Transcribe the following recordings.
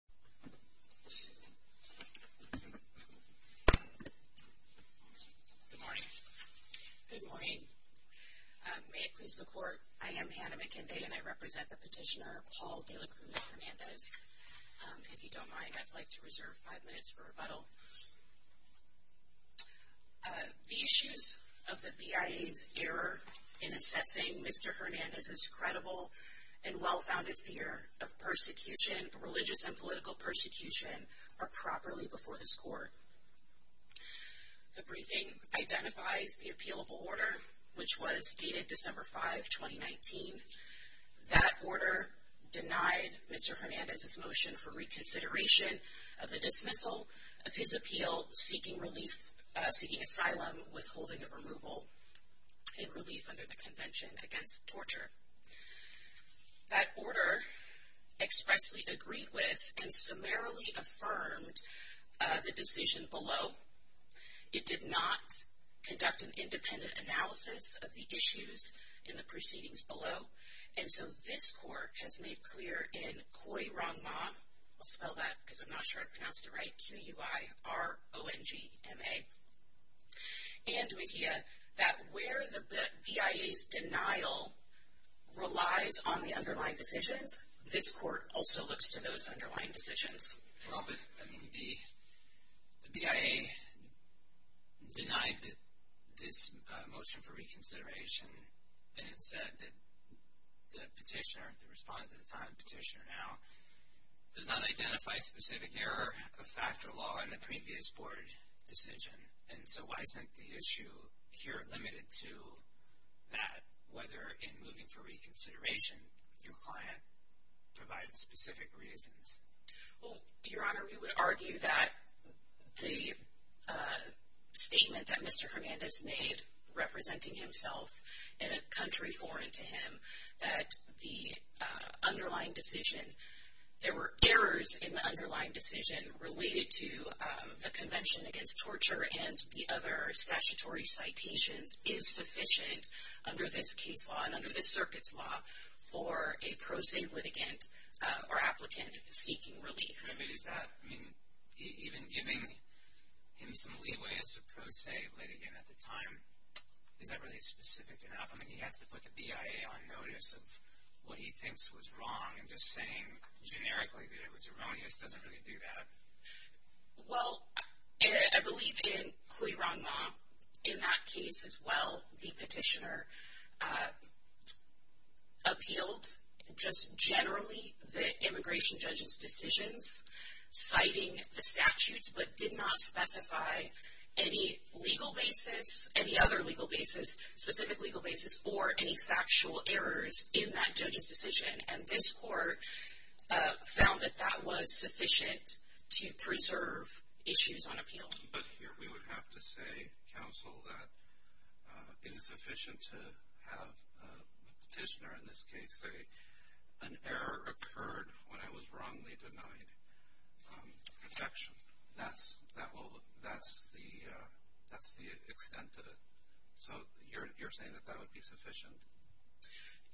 Good morning. Good morning. May it please the Court, I am Hannah McKenday and I represent the petitioner Paul De La Cruz Hernandez. If you don't mind, I'd like to reserve five minutes for rebuttal. The issues of the BIA's error in assessing Mr. Hernandez's credible and well-founded fear of persecution, religious and political persecution, are properly before this Court. The briefing identifies the appealable order, which was dated December 5, 2019. That order denied Mr. Hernandez's motion for reconsideration of the dismissal of his appeal seeking relief, seeking asylum, withholding of removal and relief under the Convention Against Torture. That order expressly agreed with and summarily affirmed the decision below. It did not conduct an independent analysis of the issues in the proceedings below and so this Court has made clear in Cui Rongma, I'll spell that because I'm not sure I pronounced it right, C-U-I-R-O-N-G-M-A. And we hear that where the BIA's denial relies on the underlying decisions, this Court also looks to those underlying decisions. Well, but I mean the BIA denied this motion for reconsideration and said that the petitioner, the respondent at the time, petitioner now, does not identify specific error of factor law in the previous Board decision and so why isn't the issue here limited to that, whether in moving for reconsideration your client provided specific reasons? Well, Your Honor, we would argue that the statement that Mr. Hernandez made representing himself in a country foreign to him, that the underlying decision, there were errors in the underlying decision related to the Convention Against Torture and the other statutory citations is sufficient under this case law and under this circuit's law for a pro se litigant or applicant seeking relief. I mean is that, even giving him some leeway as a pro se litigant at the time, is that really specific enough? I mean he has to put the BIA on notice of what he thinks was wrong and just saying generically that it was erroneous doesn't really do that. Well, I believe in Cui Rongma, in that case as well, the petitioner appealed just generally the immigration judge's decisions citing the statutes but did not specify any legal basis, any other legal basis, specific legal basis or any factual errors in that judge's decision and this court found that that was sufficient to preserve issues on appeal. But here we would have to say, counsel, that it is sufficient to have a petitioner, in this case, say an error occurred when I was wrongly denied protection. That's the extent of it. So you're saying that that would be sufficient?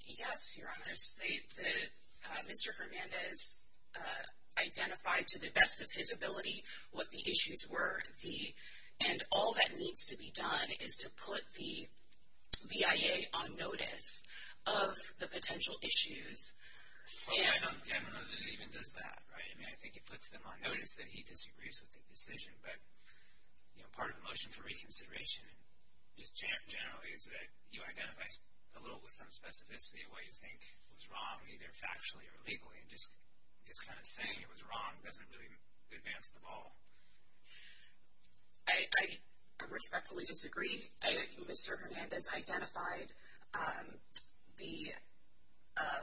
Yes, Your Honor. Mr. Hernandez identified to the and all that needs to be done is to put the BIA on notice of the potential issues. Well I don't know that it even does that, right? I mean I think it puts them on notice that he disagrees with the decision but you know part of the motion for reconsideration just generally is that you identify a little with some specificity of what you think was wrong either factually or I respectfully disagree. Mr. Hernandez identified the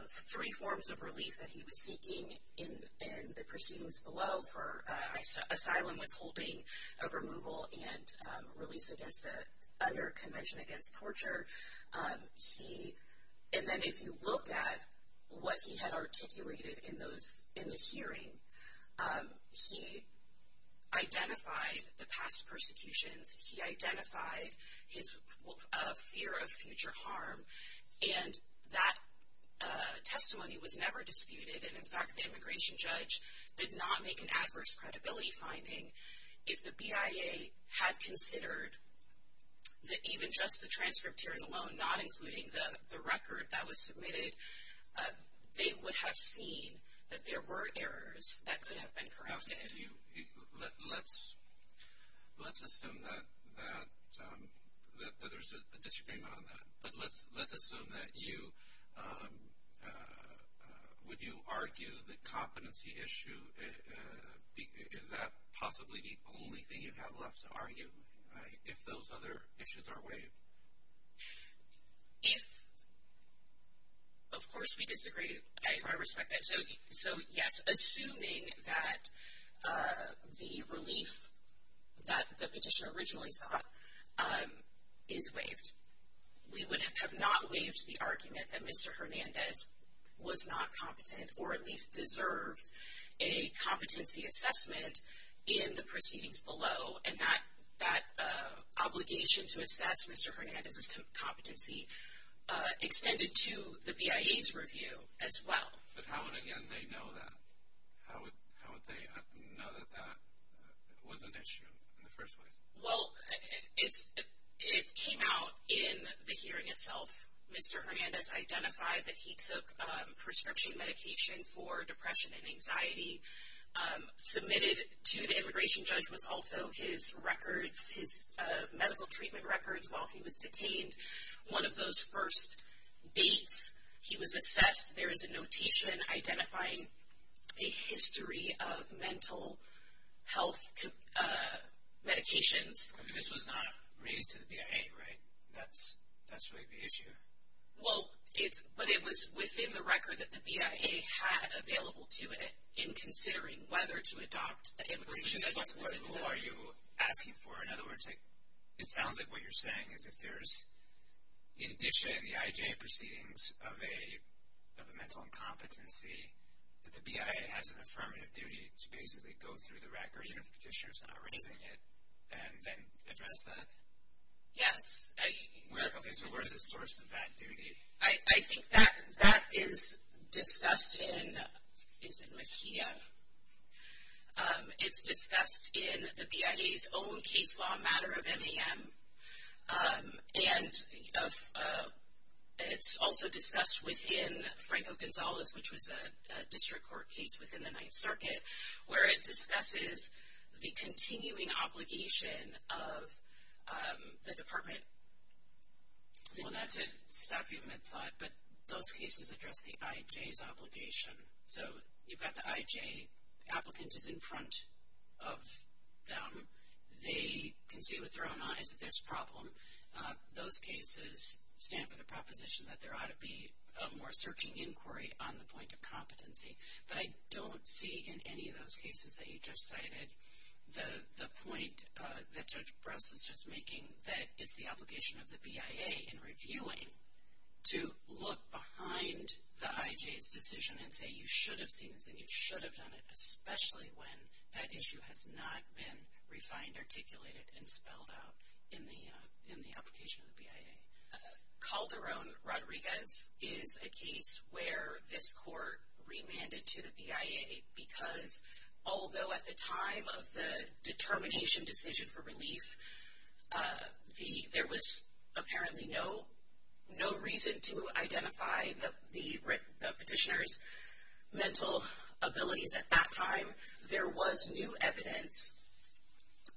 three forms of relief that he was seeking in the proceedings below for asylum withholding of removal and release against the other convention against torture. And then if you look at what he had articulated in those in the hearing, he identified the past persecutions, he identified his fear of future harm and that testimony was never disputed and in fact the immigration judge did not make an adverse credibility finding. If the BIA had considered that even just the transcript hearing alone, not including the record that was submitted, they would have seen that there were errors that could have been corrected. Let's assume that there's a disagreement on that but let's assume that you, would you argue the competency issue, is that possibly the only thing you have left to argue if those other issues are waived? Of course we disagree, I respect that. So yes, assuming that the relief that the petitioner originally sought is waived. We would have not waived the argument that Mr. Hernandez was not competent or at least deserved a competency assessment in the proceedings below and that obligation to assess Mr. Hernandez's competency extended to the BIA's review as well. But how would they know that? How would they know that that was an issue in the first place? Well, it came out in the hearing itself. Mr. Hernandez identified that he took prescription medication for depression and anxiety. Submitted to the immigration judge was also his records, his medical treatment records while he was detained. One of those first dates he was assessed, there is a notation identifying a history of mental health medications. This was not raised to the BIA, right? That's really the issue. Well, it's, but it was within the record that the BIA had available to it in considering whether to adopt the immigration judge's. Who are you asking for? In other words, it sounds like what you're saying is if there's in DISHA and the IJ proceedings of a mental incompetency, that the BIA has an authority of petitioners not raising it and then address that? Yes. Okay, so where's the source of that duty? I think that that is discussed in, is it Mejia? It's discussed in the BIA's own case law matter of MEM and it's also discussed within Franco Gonzalez, which was a district court case within the Ninth Circuit, where it discusses the continuing obligation of the department. I don't want that to stop you mid-plot, but those cases address the IJ's obligation. So you've got the IJ applicant is in front of them. They can see with their own eyes that there's a problem. Those cases stand for the proposition that there ought to be a more searching inquiry on the point of competency. But I don't see in any of those cases that you just cited the point that Judge Bress is just making that it's the obligation of the BIA in reviewing to look behind the IJ's decision and say you should have seen this and you should have done it, especially when that issue has not been refined, articulated, and spelled out in the application of the BIA. Calderon-Rodriguez is a case where this court remanded to the BIA because although at the time of the determination decision for relief, there was apparently no reason to identify the petitioner's mental abilities at that time, there was new evidence.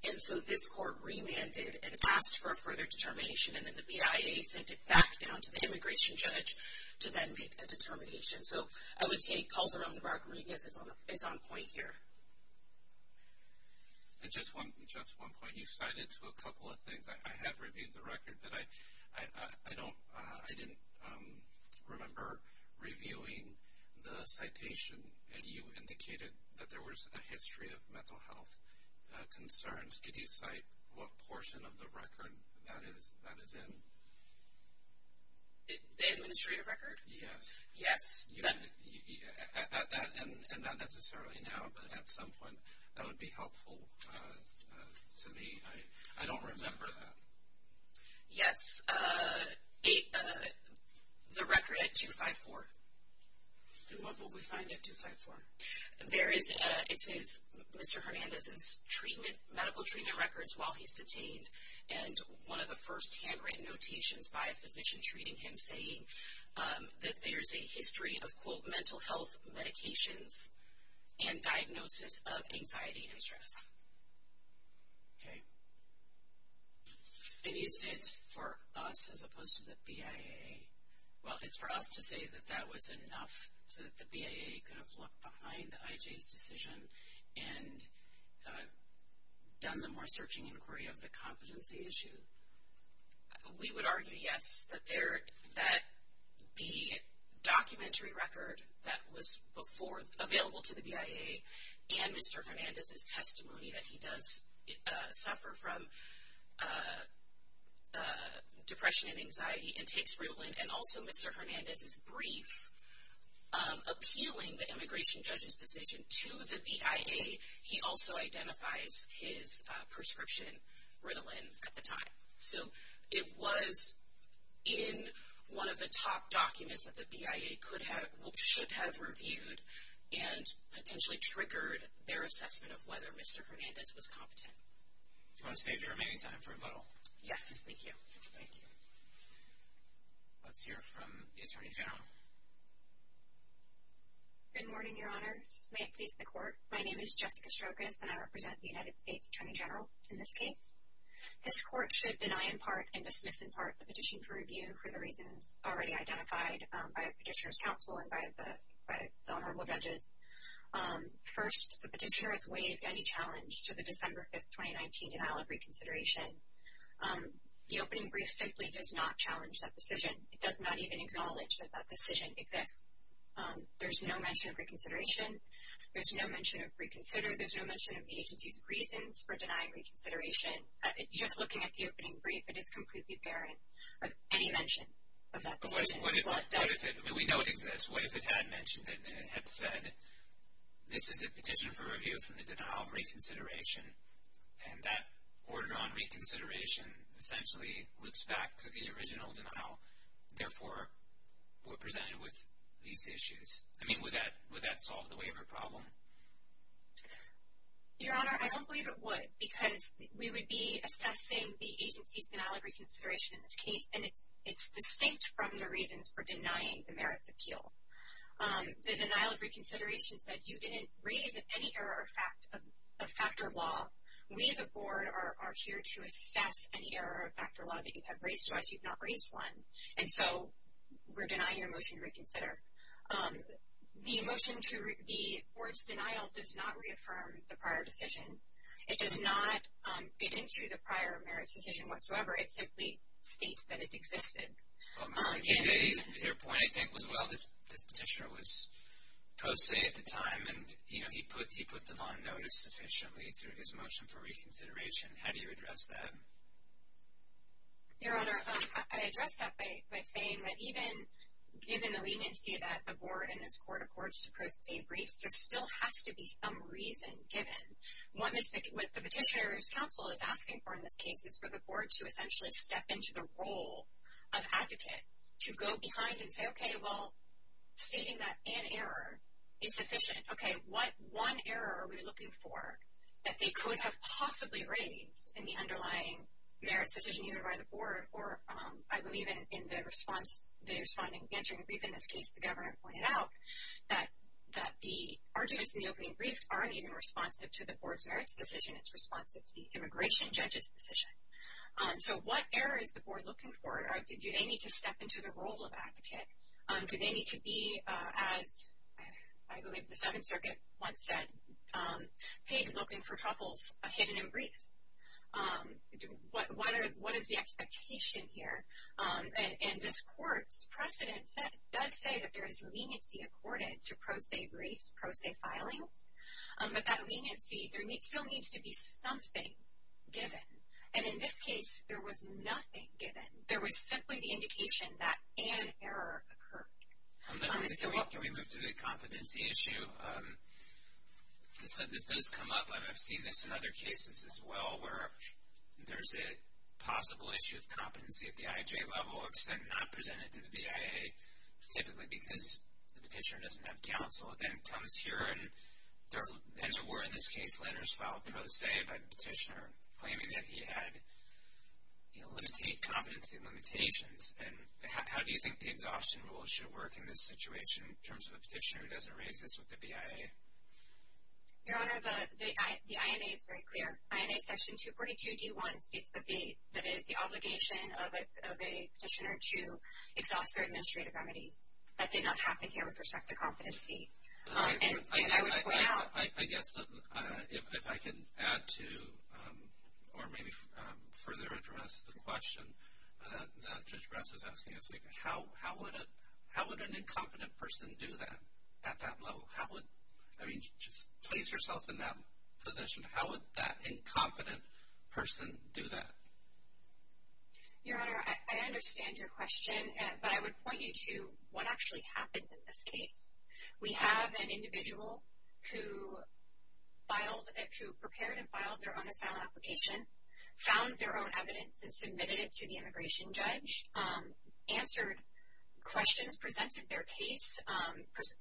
And so this court remanded and asked for a further determination, and then the BIA sent it back down to the immigration judge to then make a determination. So I would say Calderon-Rodriguez is on point here. And just one point. You cited a couple of things. I have reviewed the record, but I didn't remember reviewing the citation, and you indicated that there was a history of mental health concerns. Could you cite what portion of the record that is in? The administrative record? Yes. Yes. And not necessarily now, but at some point, that would be helpful to me. I don't remember that. Yes. The record at 254. And what will we find at 254? It says Mr. Hernandez's medical treatment records while he's detained, and one of the first handwritten notations by a physician treating him saying that there's a history of, quote, mental health medications and diagnosis of anxiety and stress. Okay. I need to say it's for us as opposed to the BIA. Well, it's for us to say that that was enough so that the BIA could have looked behind the IJ's decision and done the more searching inquiry of the competency issue. We would argue, yes, that the documentary record that was before available to the BIA and Mr. Hernandez's testimony that he does suffer from of appealing the immigration judge's decision to the BIA, he also identifies his prescription Ritalin at the time. So it was in one of the top documents that the BIA should have reviewed and potentially triggered their assessment of whether Mr. Hernandez was competent. Do you want to save your remaining time for a little? Yes. Thank you. Thank you. Okay. Let's hear from the Attorney General. Good morning, Your Honors. May it please the Court. My name is Jessica Strokas, and I represent the United States Attorney General in this case. This Court should deny in part and dismiss in part the petition for review for the reasons already identified by the Petitioner's Counsel and by the Honorable Judges. First, the Petitioner has waived any challenge to the that decision. It does not even acknowledge that that decision exists. There's no mention of reconsideration. There's no mention of reconsider. There's no mention of the agency's reasons for denying reconsideration. Just looking at the opening brief, it is completely barren of any mention of that decision. But what if it, we know it exists, what if it had mentioned it and it had said, this is a petition for review from the denial of reconsideration, and that order on reconsideration essentially loops back to the original denial, therefore, we're presented with these issues? I mean, would that solve the waiver problem? Your Honor, I don't believe it would, because we would be assessing the agency's denial of reconsideration in this case, and it's distinct from the reasons for denying the merits appeal. The denial of reconsideration said you didn't raise any error of factor law. We, the Board, are here to assess any error of factor law that you have raised to us. You've not raised one, and so we're denying your motion to reconsider. The motion to, the Board's denial does not reaffirm the prior decision. It does not get into the prior merits decision whatsoever. It simply states that it existed. Your point, I think, was well, this petitioner was pro se at the time, and, you know, he put them on notice sufficiently through his motion for reconsideration. How do you address that? Your Honor, I address that by saying that even given the leniency that the Board and this Court accords to pro se briefs, there still has to be some reason given. What the petitioner's counsel is asking for in this case is for the Board to step into the role of advocate to go behind and say, okay, well, stating that an error is sufficient. Okay, what one error are we looking for that they could have possibly raised in the underlying merits decision either by the Board or, I believe, in the response, the responding answering brief in this case, the Governor pointed out that the arguments in the opening brief aren't even responsive to the Board's merits decision. It's responsive to the immigration judge's decision. So what error is the Board looking for? Do they need to step into the role of advocate? Do they need to be, as I believe the Seventh Circuit once said, paid looking for troubles hidden in briefs? What is the expectation here? And this Court's precedent does say that there is leniency accorded to pro se briefs, pro se filings, but that leniency, there still needs to be something given. And in this case, there was nothing given. There was simply the indication that an error occurred. And then after we move to the competency issue, this does come up, and I've seen this in other cases as well, where there's a possible issue of competency at the IJ level. It's then not presented to the BIA, typically because the petitioner doesn't have counsel. It then comes here and there were, in this case, letters filed pro se by the petitioner claiming that he had, you know, competency limitations. And how do you think the exhaustion rule should work in this situation in terms of a petitioner who doesn't re-exist with the BIA? Your Honor, the INA is very clear. INA section 242d.1 states that it is the obligation of a petitioner to exhaust their administrative remedies. That did not happen here with respect to competency. And I would point out... I guess if I could add to, or maybe further address the question that Judge Brass is asking us, how would an incompetent person do that at that level? How would, I mean, just place yourself in that position. How would that incompetent person do that? Your Honor, I understand your question, but I would point you to what actually happened in this case. We have an individual who prepared and filed their own asylum application, found their own evidence and submitted it to the immigration judge, answered questions, presented their case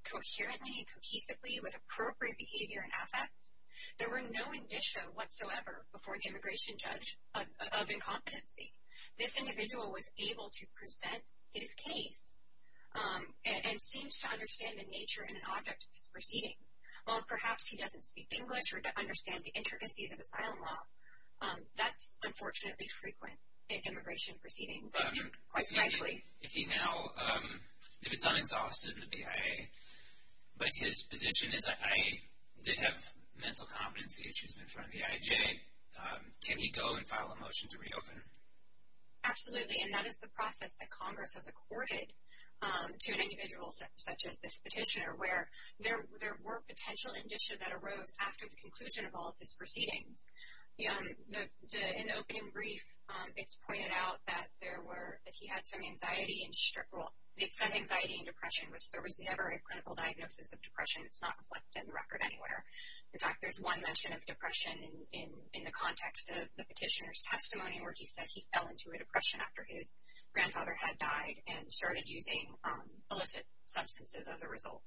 coherently and cohesively with appropriate behavior and affect. There were no indicia whatsoever before the immigration judge of incompetency. This individual was to understand the nature and object of his proceedings. While perhaps he doesn't speak English or understand the intricacies of asylum law, that's unfortunately frequent in immigration proceedings, quite frankly. If he now, if it's unexhausted in the BIA, but his position is, I did have mental competency issues in front of the IJ, can he go and file a motion to reopen? Absolutely, and that is the process that Congress has accorded to an individual such as this petitioner, where there were potential indicia that arose after the conclusion of all of his proceedings. In the opening brief, it's pointed out that there were, that he had some anxiety and depression, which there was never a clinical diagnosis of depression. It's not reflected in the record anywhere. In fact, there's one mention of depression in the context of the petitioner's testimony, where he said he fell into a depression after his grandfather had died and started using illicit substances as a result.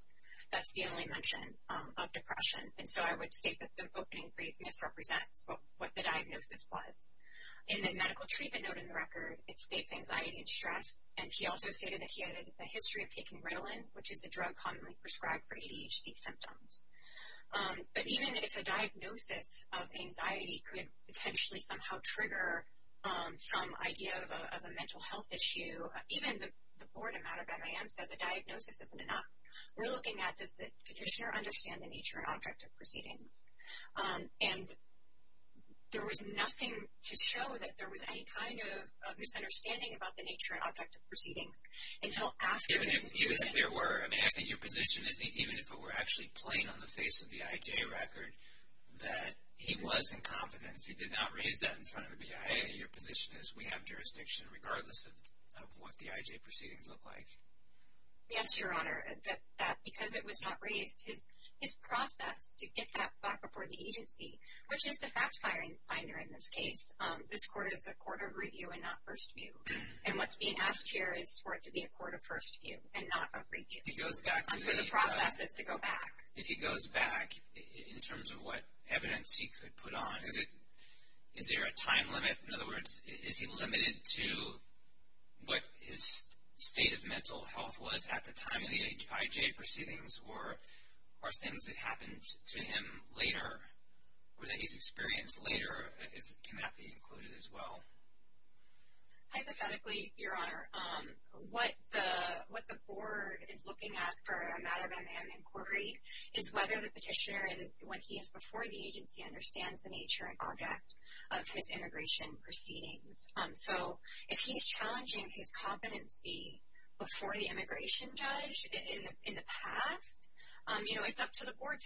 That's the only mention of depression, and so I would state that the opening brief misrepresents what the diagnosis was. In the medical treatment note in the record, it states anxiety and stress, and he also stated that he had a history of taking Ritalin, which is a drug prescribed for ADHD symptoms. But even if a diagnosis of anxiety could potentially somehow trigger some idea of a mental health issue, even the board of MIM says a diagnosis isn't enough. We're looking at does the petitioner understand the nature and object of proceedings, and there was nothing to show that there was any kind of misunderstanding about the nature and object of proceedings. Even if there were, I mean, I think your position is even if it were actually plain on the face of the IJ record that he was incompetent, if he did not raise that in front of the BIA, your position is we have jurisdiction regardless of what the IJ proceedings look like. Yes, Your Honor, that because it was not raised, his process to get that back before the agency, which is the fact finder in this case. This court is a court of review and not first view, and what's being asked here is for it to be a court of first view and not a review. He goes back to the process to go back. If he goes back in terms of what evidence he could put on, is there a time limit? In other words, is he limited to what his state of mental health was at the time of the IJ proceedings or are things that happened to him later or that he's experienced later, can that be included as well? Hypothetically, Your Honor, what the board is looking at for a matter of an inquiry is whether the petitioner, when he is before the agency, understands the nature and object of his immigration proceedings. So if he's challenging his competency before the immigration judge in the past, it's up to the board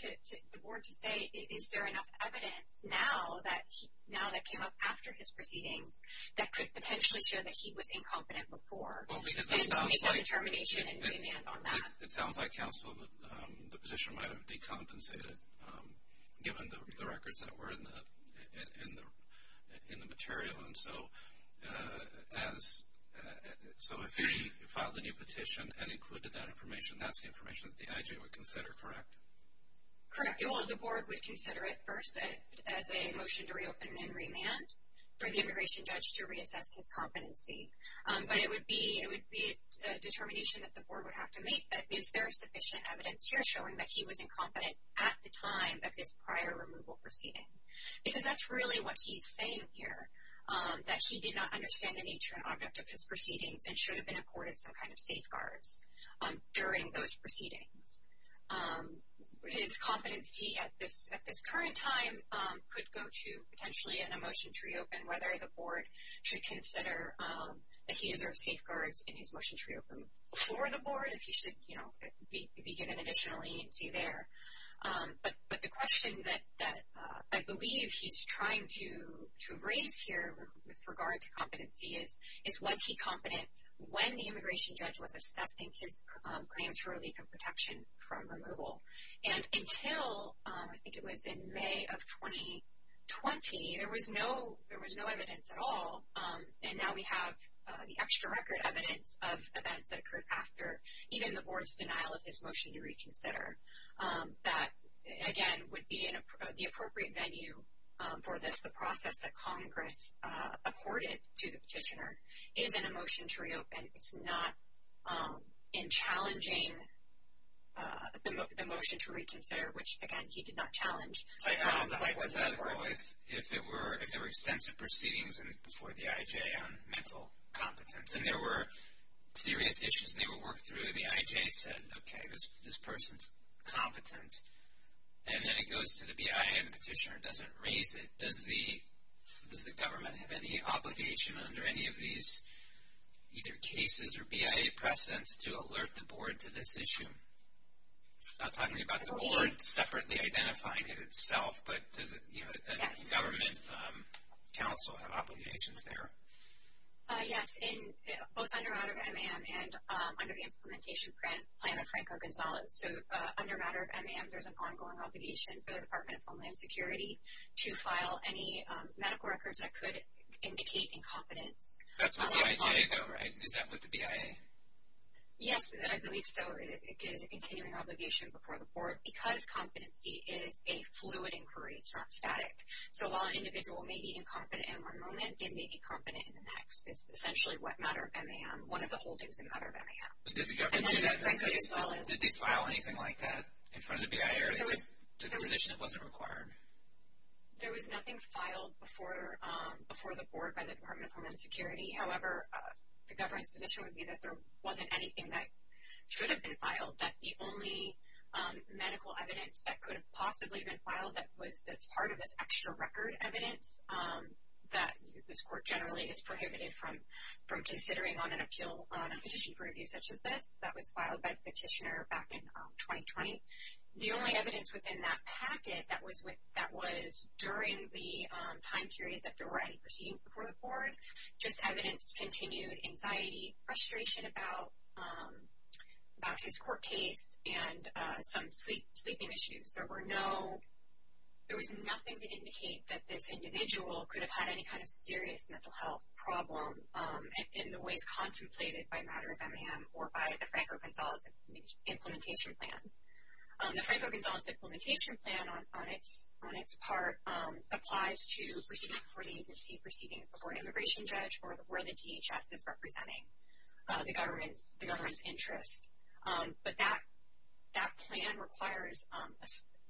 to say, is there enough evidence now that came up after his proceedings that could potentially show that he was incompetent before? Well, because it sounds like counsel, the petition might have decompensated given the information. That's the information that the IJ would consider, correct? Correct. Well, the board would consider it first as a motion to reopen and remand for the immigration judge to reassess his competency. But it would be a determination that the board would have to make that is there sufficient evidence here showing that he was incompetent at the time of his prior removal proceeding? Because that's really what he's saying here, that he did not understand the nature and object of his proceedings and should have been accorded some kind of safeguards during those proceedings. His competency at this current time could go to potentially in a motion to reopen, whether the board should consider that he deserves safeguards in his motion to reopen before the board, if he should be given additional agency there. But the question that I believe he's trying to raise here with regard to competency is, was he competent when the immigration judge was assessing his claims for relief and protection from removal? And until, I think it was in May of 2020, there was no evidence at all. And now we have the extra record evidence of events that occurred after even the board's denial of his motion to reconsider. That, again, would be the appropriate venue for this, the process that Congress accorded to the petitioner, is in a motion to reopen. It's not in challenging the motion to reconsider, which, again, he did not challenge. I was like, what if there were extensive proceedings before the IJ on mental competence, and there were serious issues, and they would work through, and the IJ said, okay, this person's competent. And then it goes to the BIA, and the petitioner doesn't raise it. Does the government have any obligation under any of these either cases or BIA precedents to alert the board to this issue? I'm not talking about the board separately identifying it itself, but does a government council have obligations there? Yes, both under matter of MAM and under the implementation plan of Franco Gonzalez. So, under matter of MAM, there's an ongoing obligation for the Department of Homeland Security to file any medical records that could indicate incompetence. That's with the IJ, though, right? Is that with the BIA? Yes, I believe so. It is a continuing obligation before the board because competency is a fluid inquiry. It's not static. So, while an individual may be incompetent in one moment, they may be competent in the next. It's essentially what matter of MAM, one of the holdings in matter of MAM. But did the government do that? Did they file anything like that in front of the BIA or they just took a position it wasn't required? There was nothing filed before the board by the Department of Homeland Security. However, the government's position would be that there wasn't anything that should have been filed, that the only medical evidence that could have possibly been filed that's part of this extra record evidence that this court generally is prohibited from considering on a petition for review such as this that was filed by the petitioner back in 2020. The only evidence within that packet that was during the time period that there were any proceedings before the board, just evidence, continued anxiety, frustration about his court case, and some sleeping issues. There were no, there was nothing to indicate that this individual could have had any kind of serious mental health problem in the ways contemplated by matter of MAM or by the Franco-Gonzalez Implementation Plan. The Franco-Gonzalez Implementation Plan on its part applies to proceedings before the agency, proceedings before an immigration judge or where the DHS is representing the government's interest. But that plan requires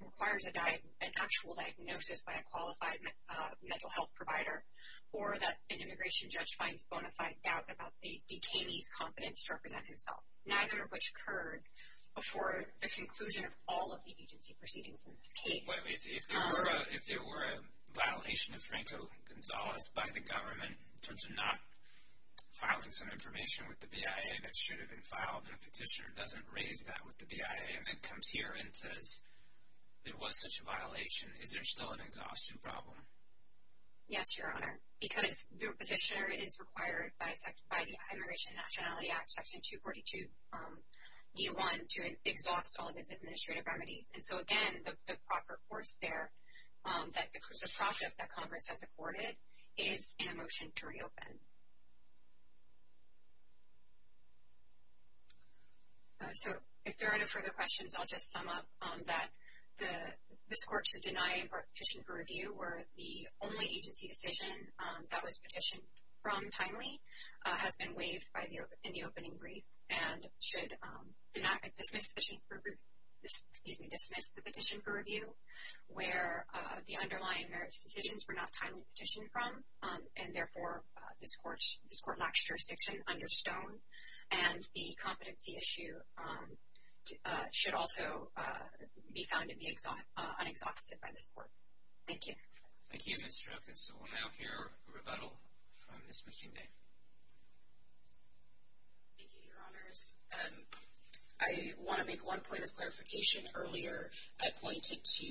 requires an actual diagnosis by a qualified mental health provider or that an immigration judge finds bona fide doubt about the detainee's competence to represent himself, neither of which occurred before the conclusion of all of the agency proceedings in this case. But if there were a violation of Franco-Gonzalez by the government in terms of not filing some information with the BIA that should have been filed in a petition, it doesn't raise that with the BIA and comes here and says there was such a violation. Is there still an exhaustion problem? Yes, Your Honor, because the petitioner is required by the Immigration Nationality Act, Section 242, D1, to exhaust all of his administrative remedies. And so again, the proper course there, that the process that Congress has afforded is in a motion to reopen. So if there are no further questions, I'll just sum up that this court should deny a petition for review where the only agency decision that was petitioned from timely has been waived in the opening brief and should dismiss the petition for review where the underlying merits decisions were not timely petitioned from. And therefore, this court knocks jurisdiction under stone. And the competency issue should also be found to be unexhausted by this court. Thank you. Thank you, Ms. Strokas. We'll now hear a rebuttal from Ms. McInday. Thank you, Your Honors. I want to make one point of clarification earlier. I pointed to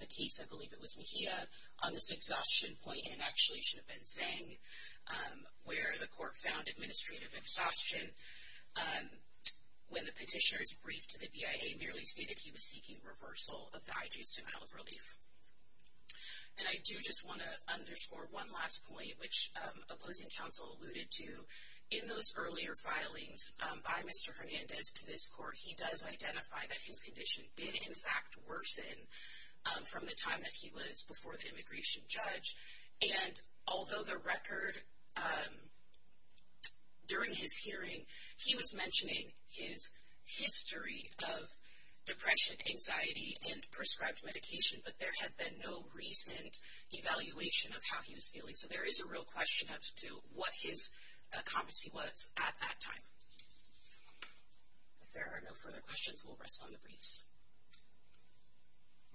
the case, I believe it was Mejia, on this exhaustion point, and actually it should have been Zeng, where the court found administrative exhaustion when the petitioner's brief to the BIA merely stated he was seeking reversal of the IJ's denial of relief. And I do just want to underscore one last point, which opposing counsel alluded to in those earlier filings by Mr. Hernandez to this from the time that he was before the immigration judge. And although the record during his hearing, he was mentioning his history of depression, anxiety, and prescribed medication, but there had been no recent evaluation of how he was feeling. So there is a real question as to what his competency was at that time. If there are no further questions, we'll rest on the briefs.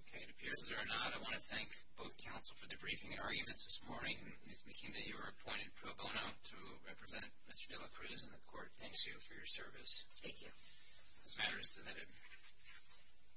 Okay, it appears there are not. I want to thank both counsel for the briefing arguments this morning. Ms. McInday, you are appointed pro bono to represent Mr. de la Cruz in the court. Thank you for your service. Thank you. This matter is submitted.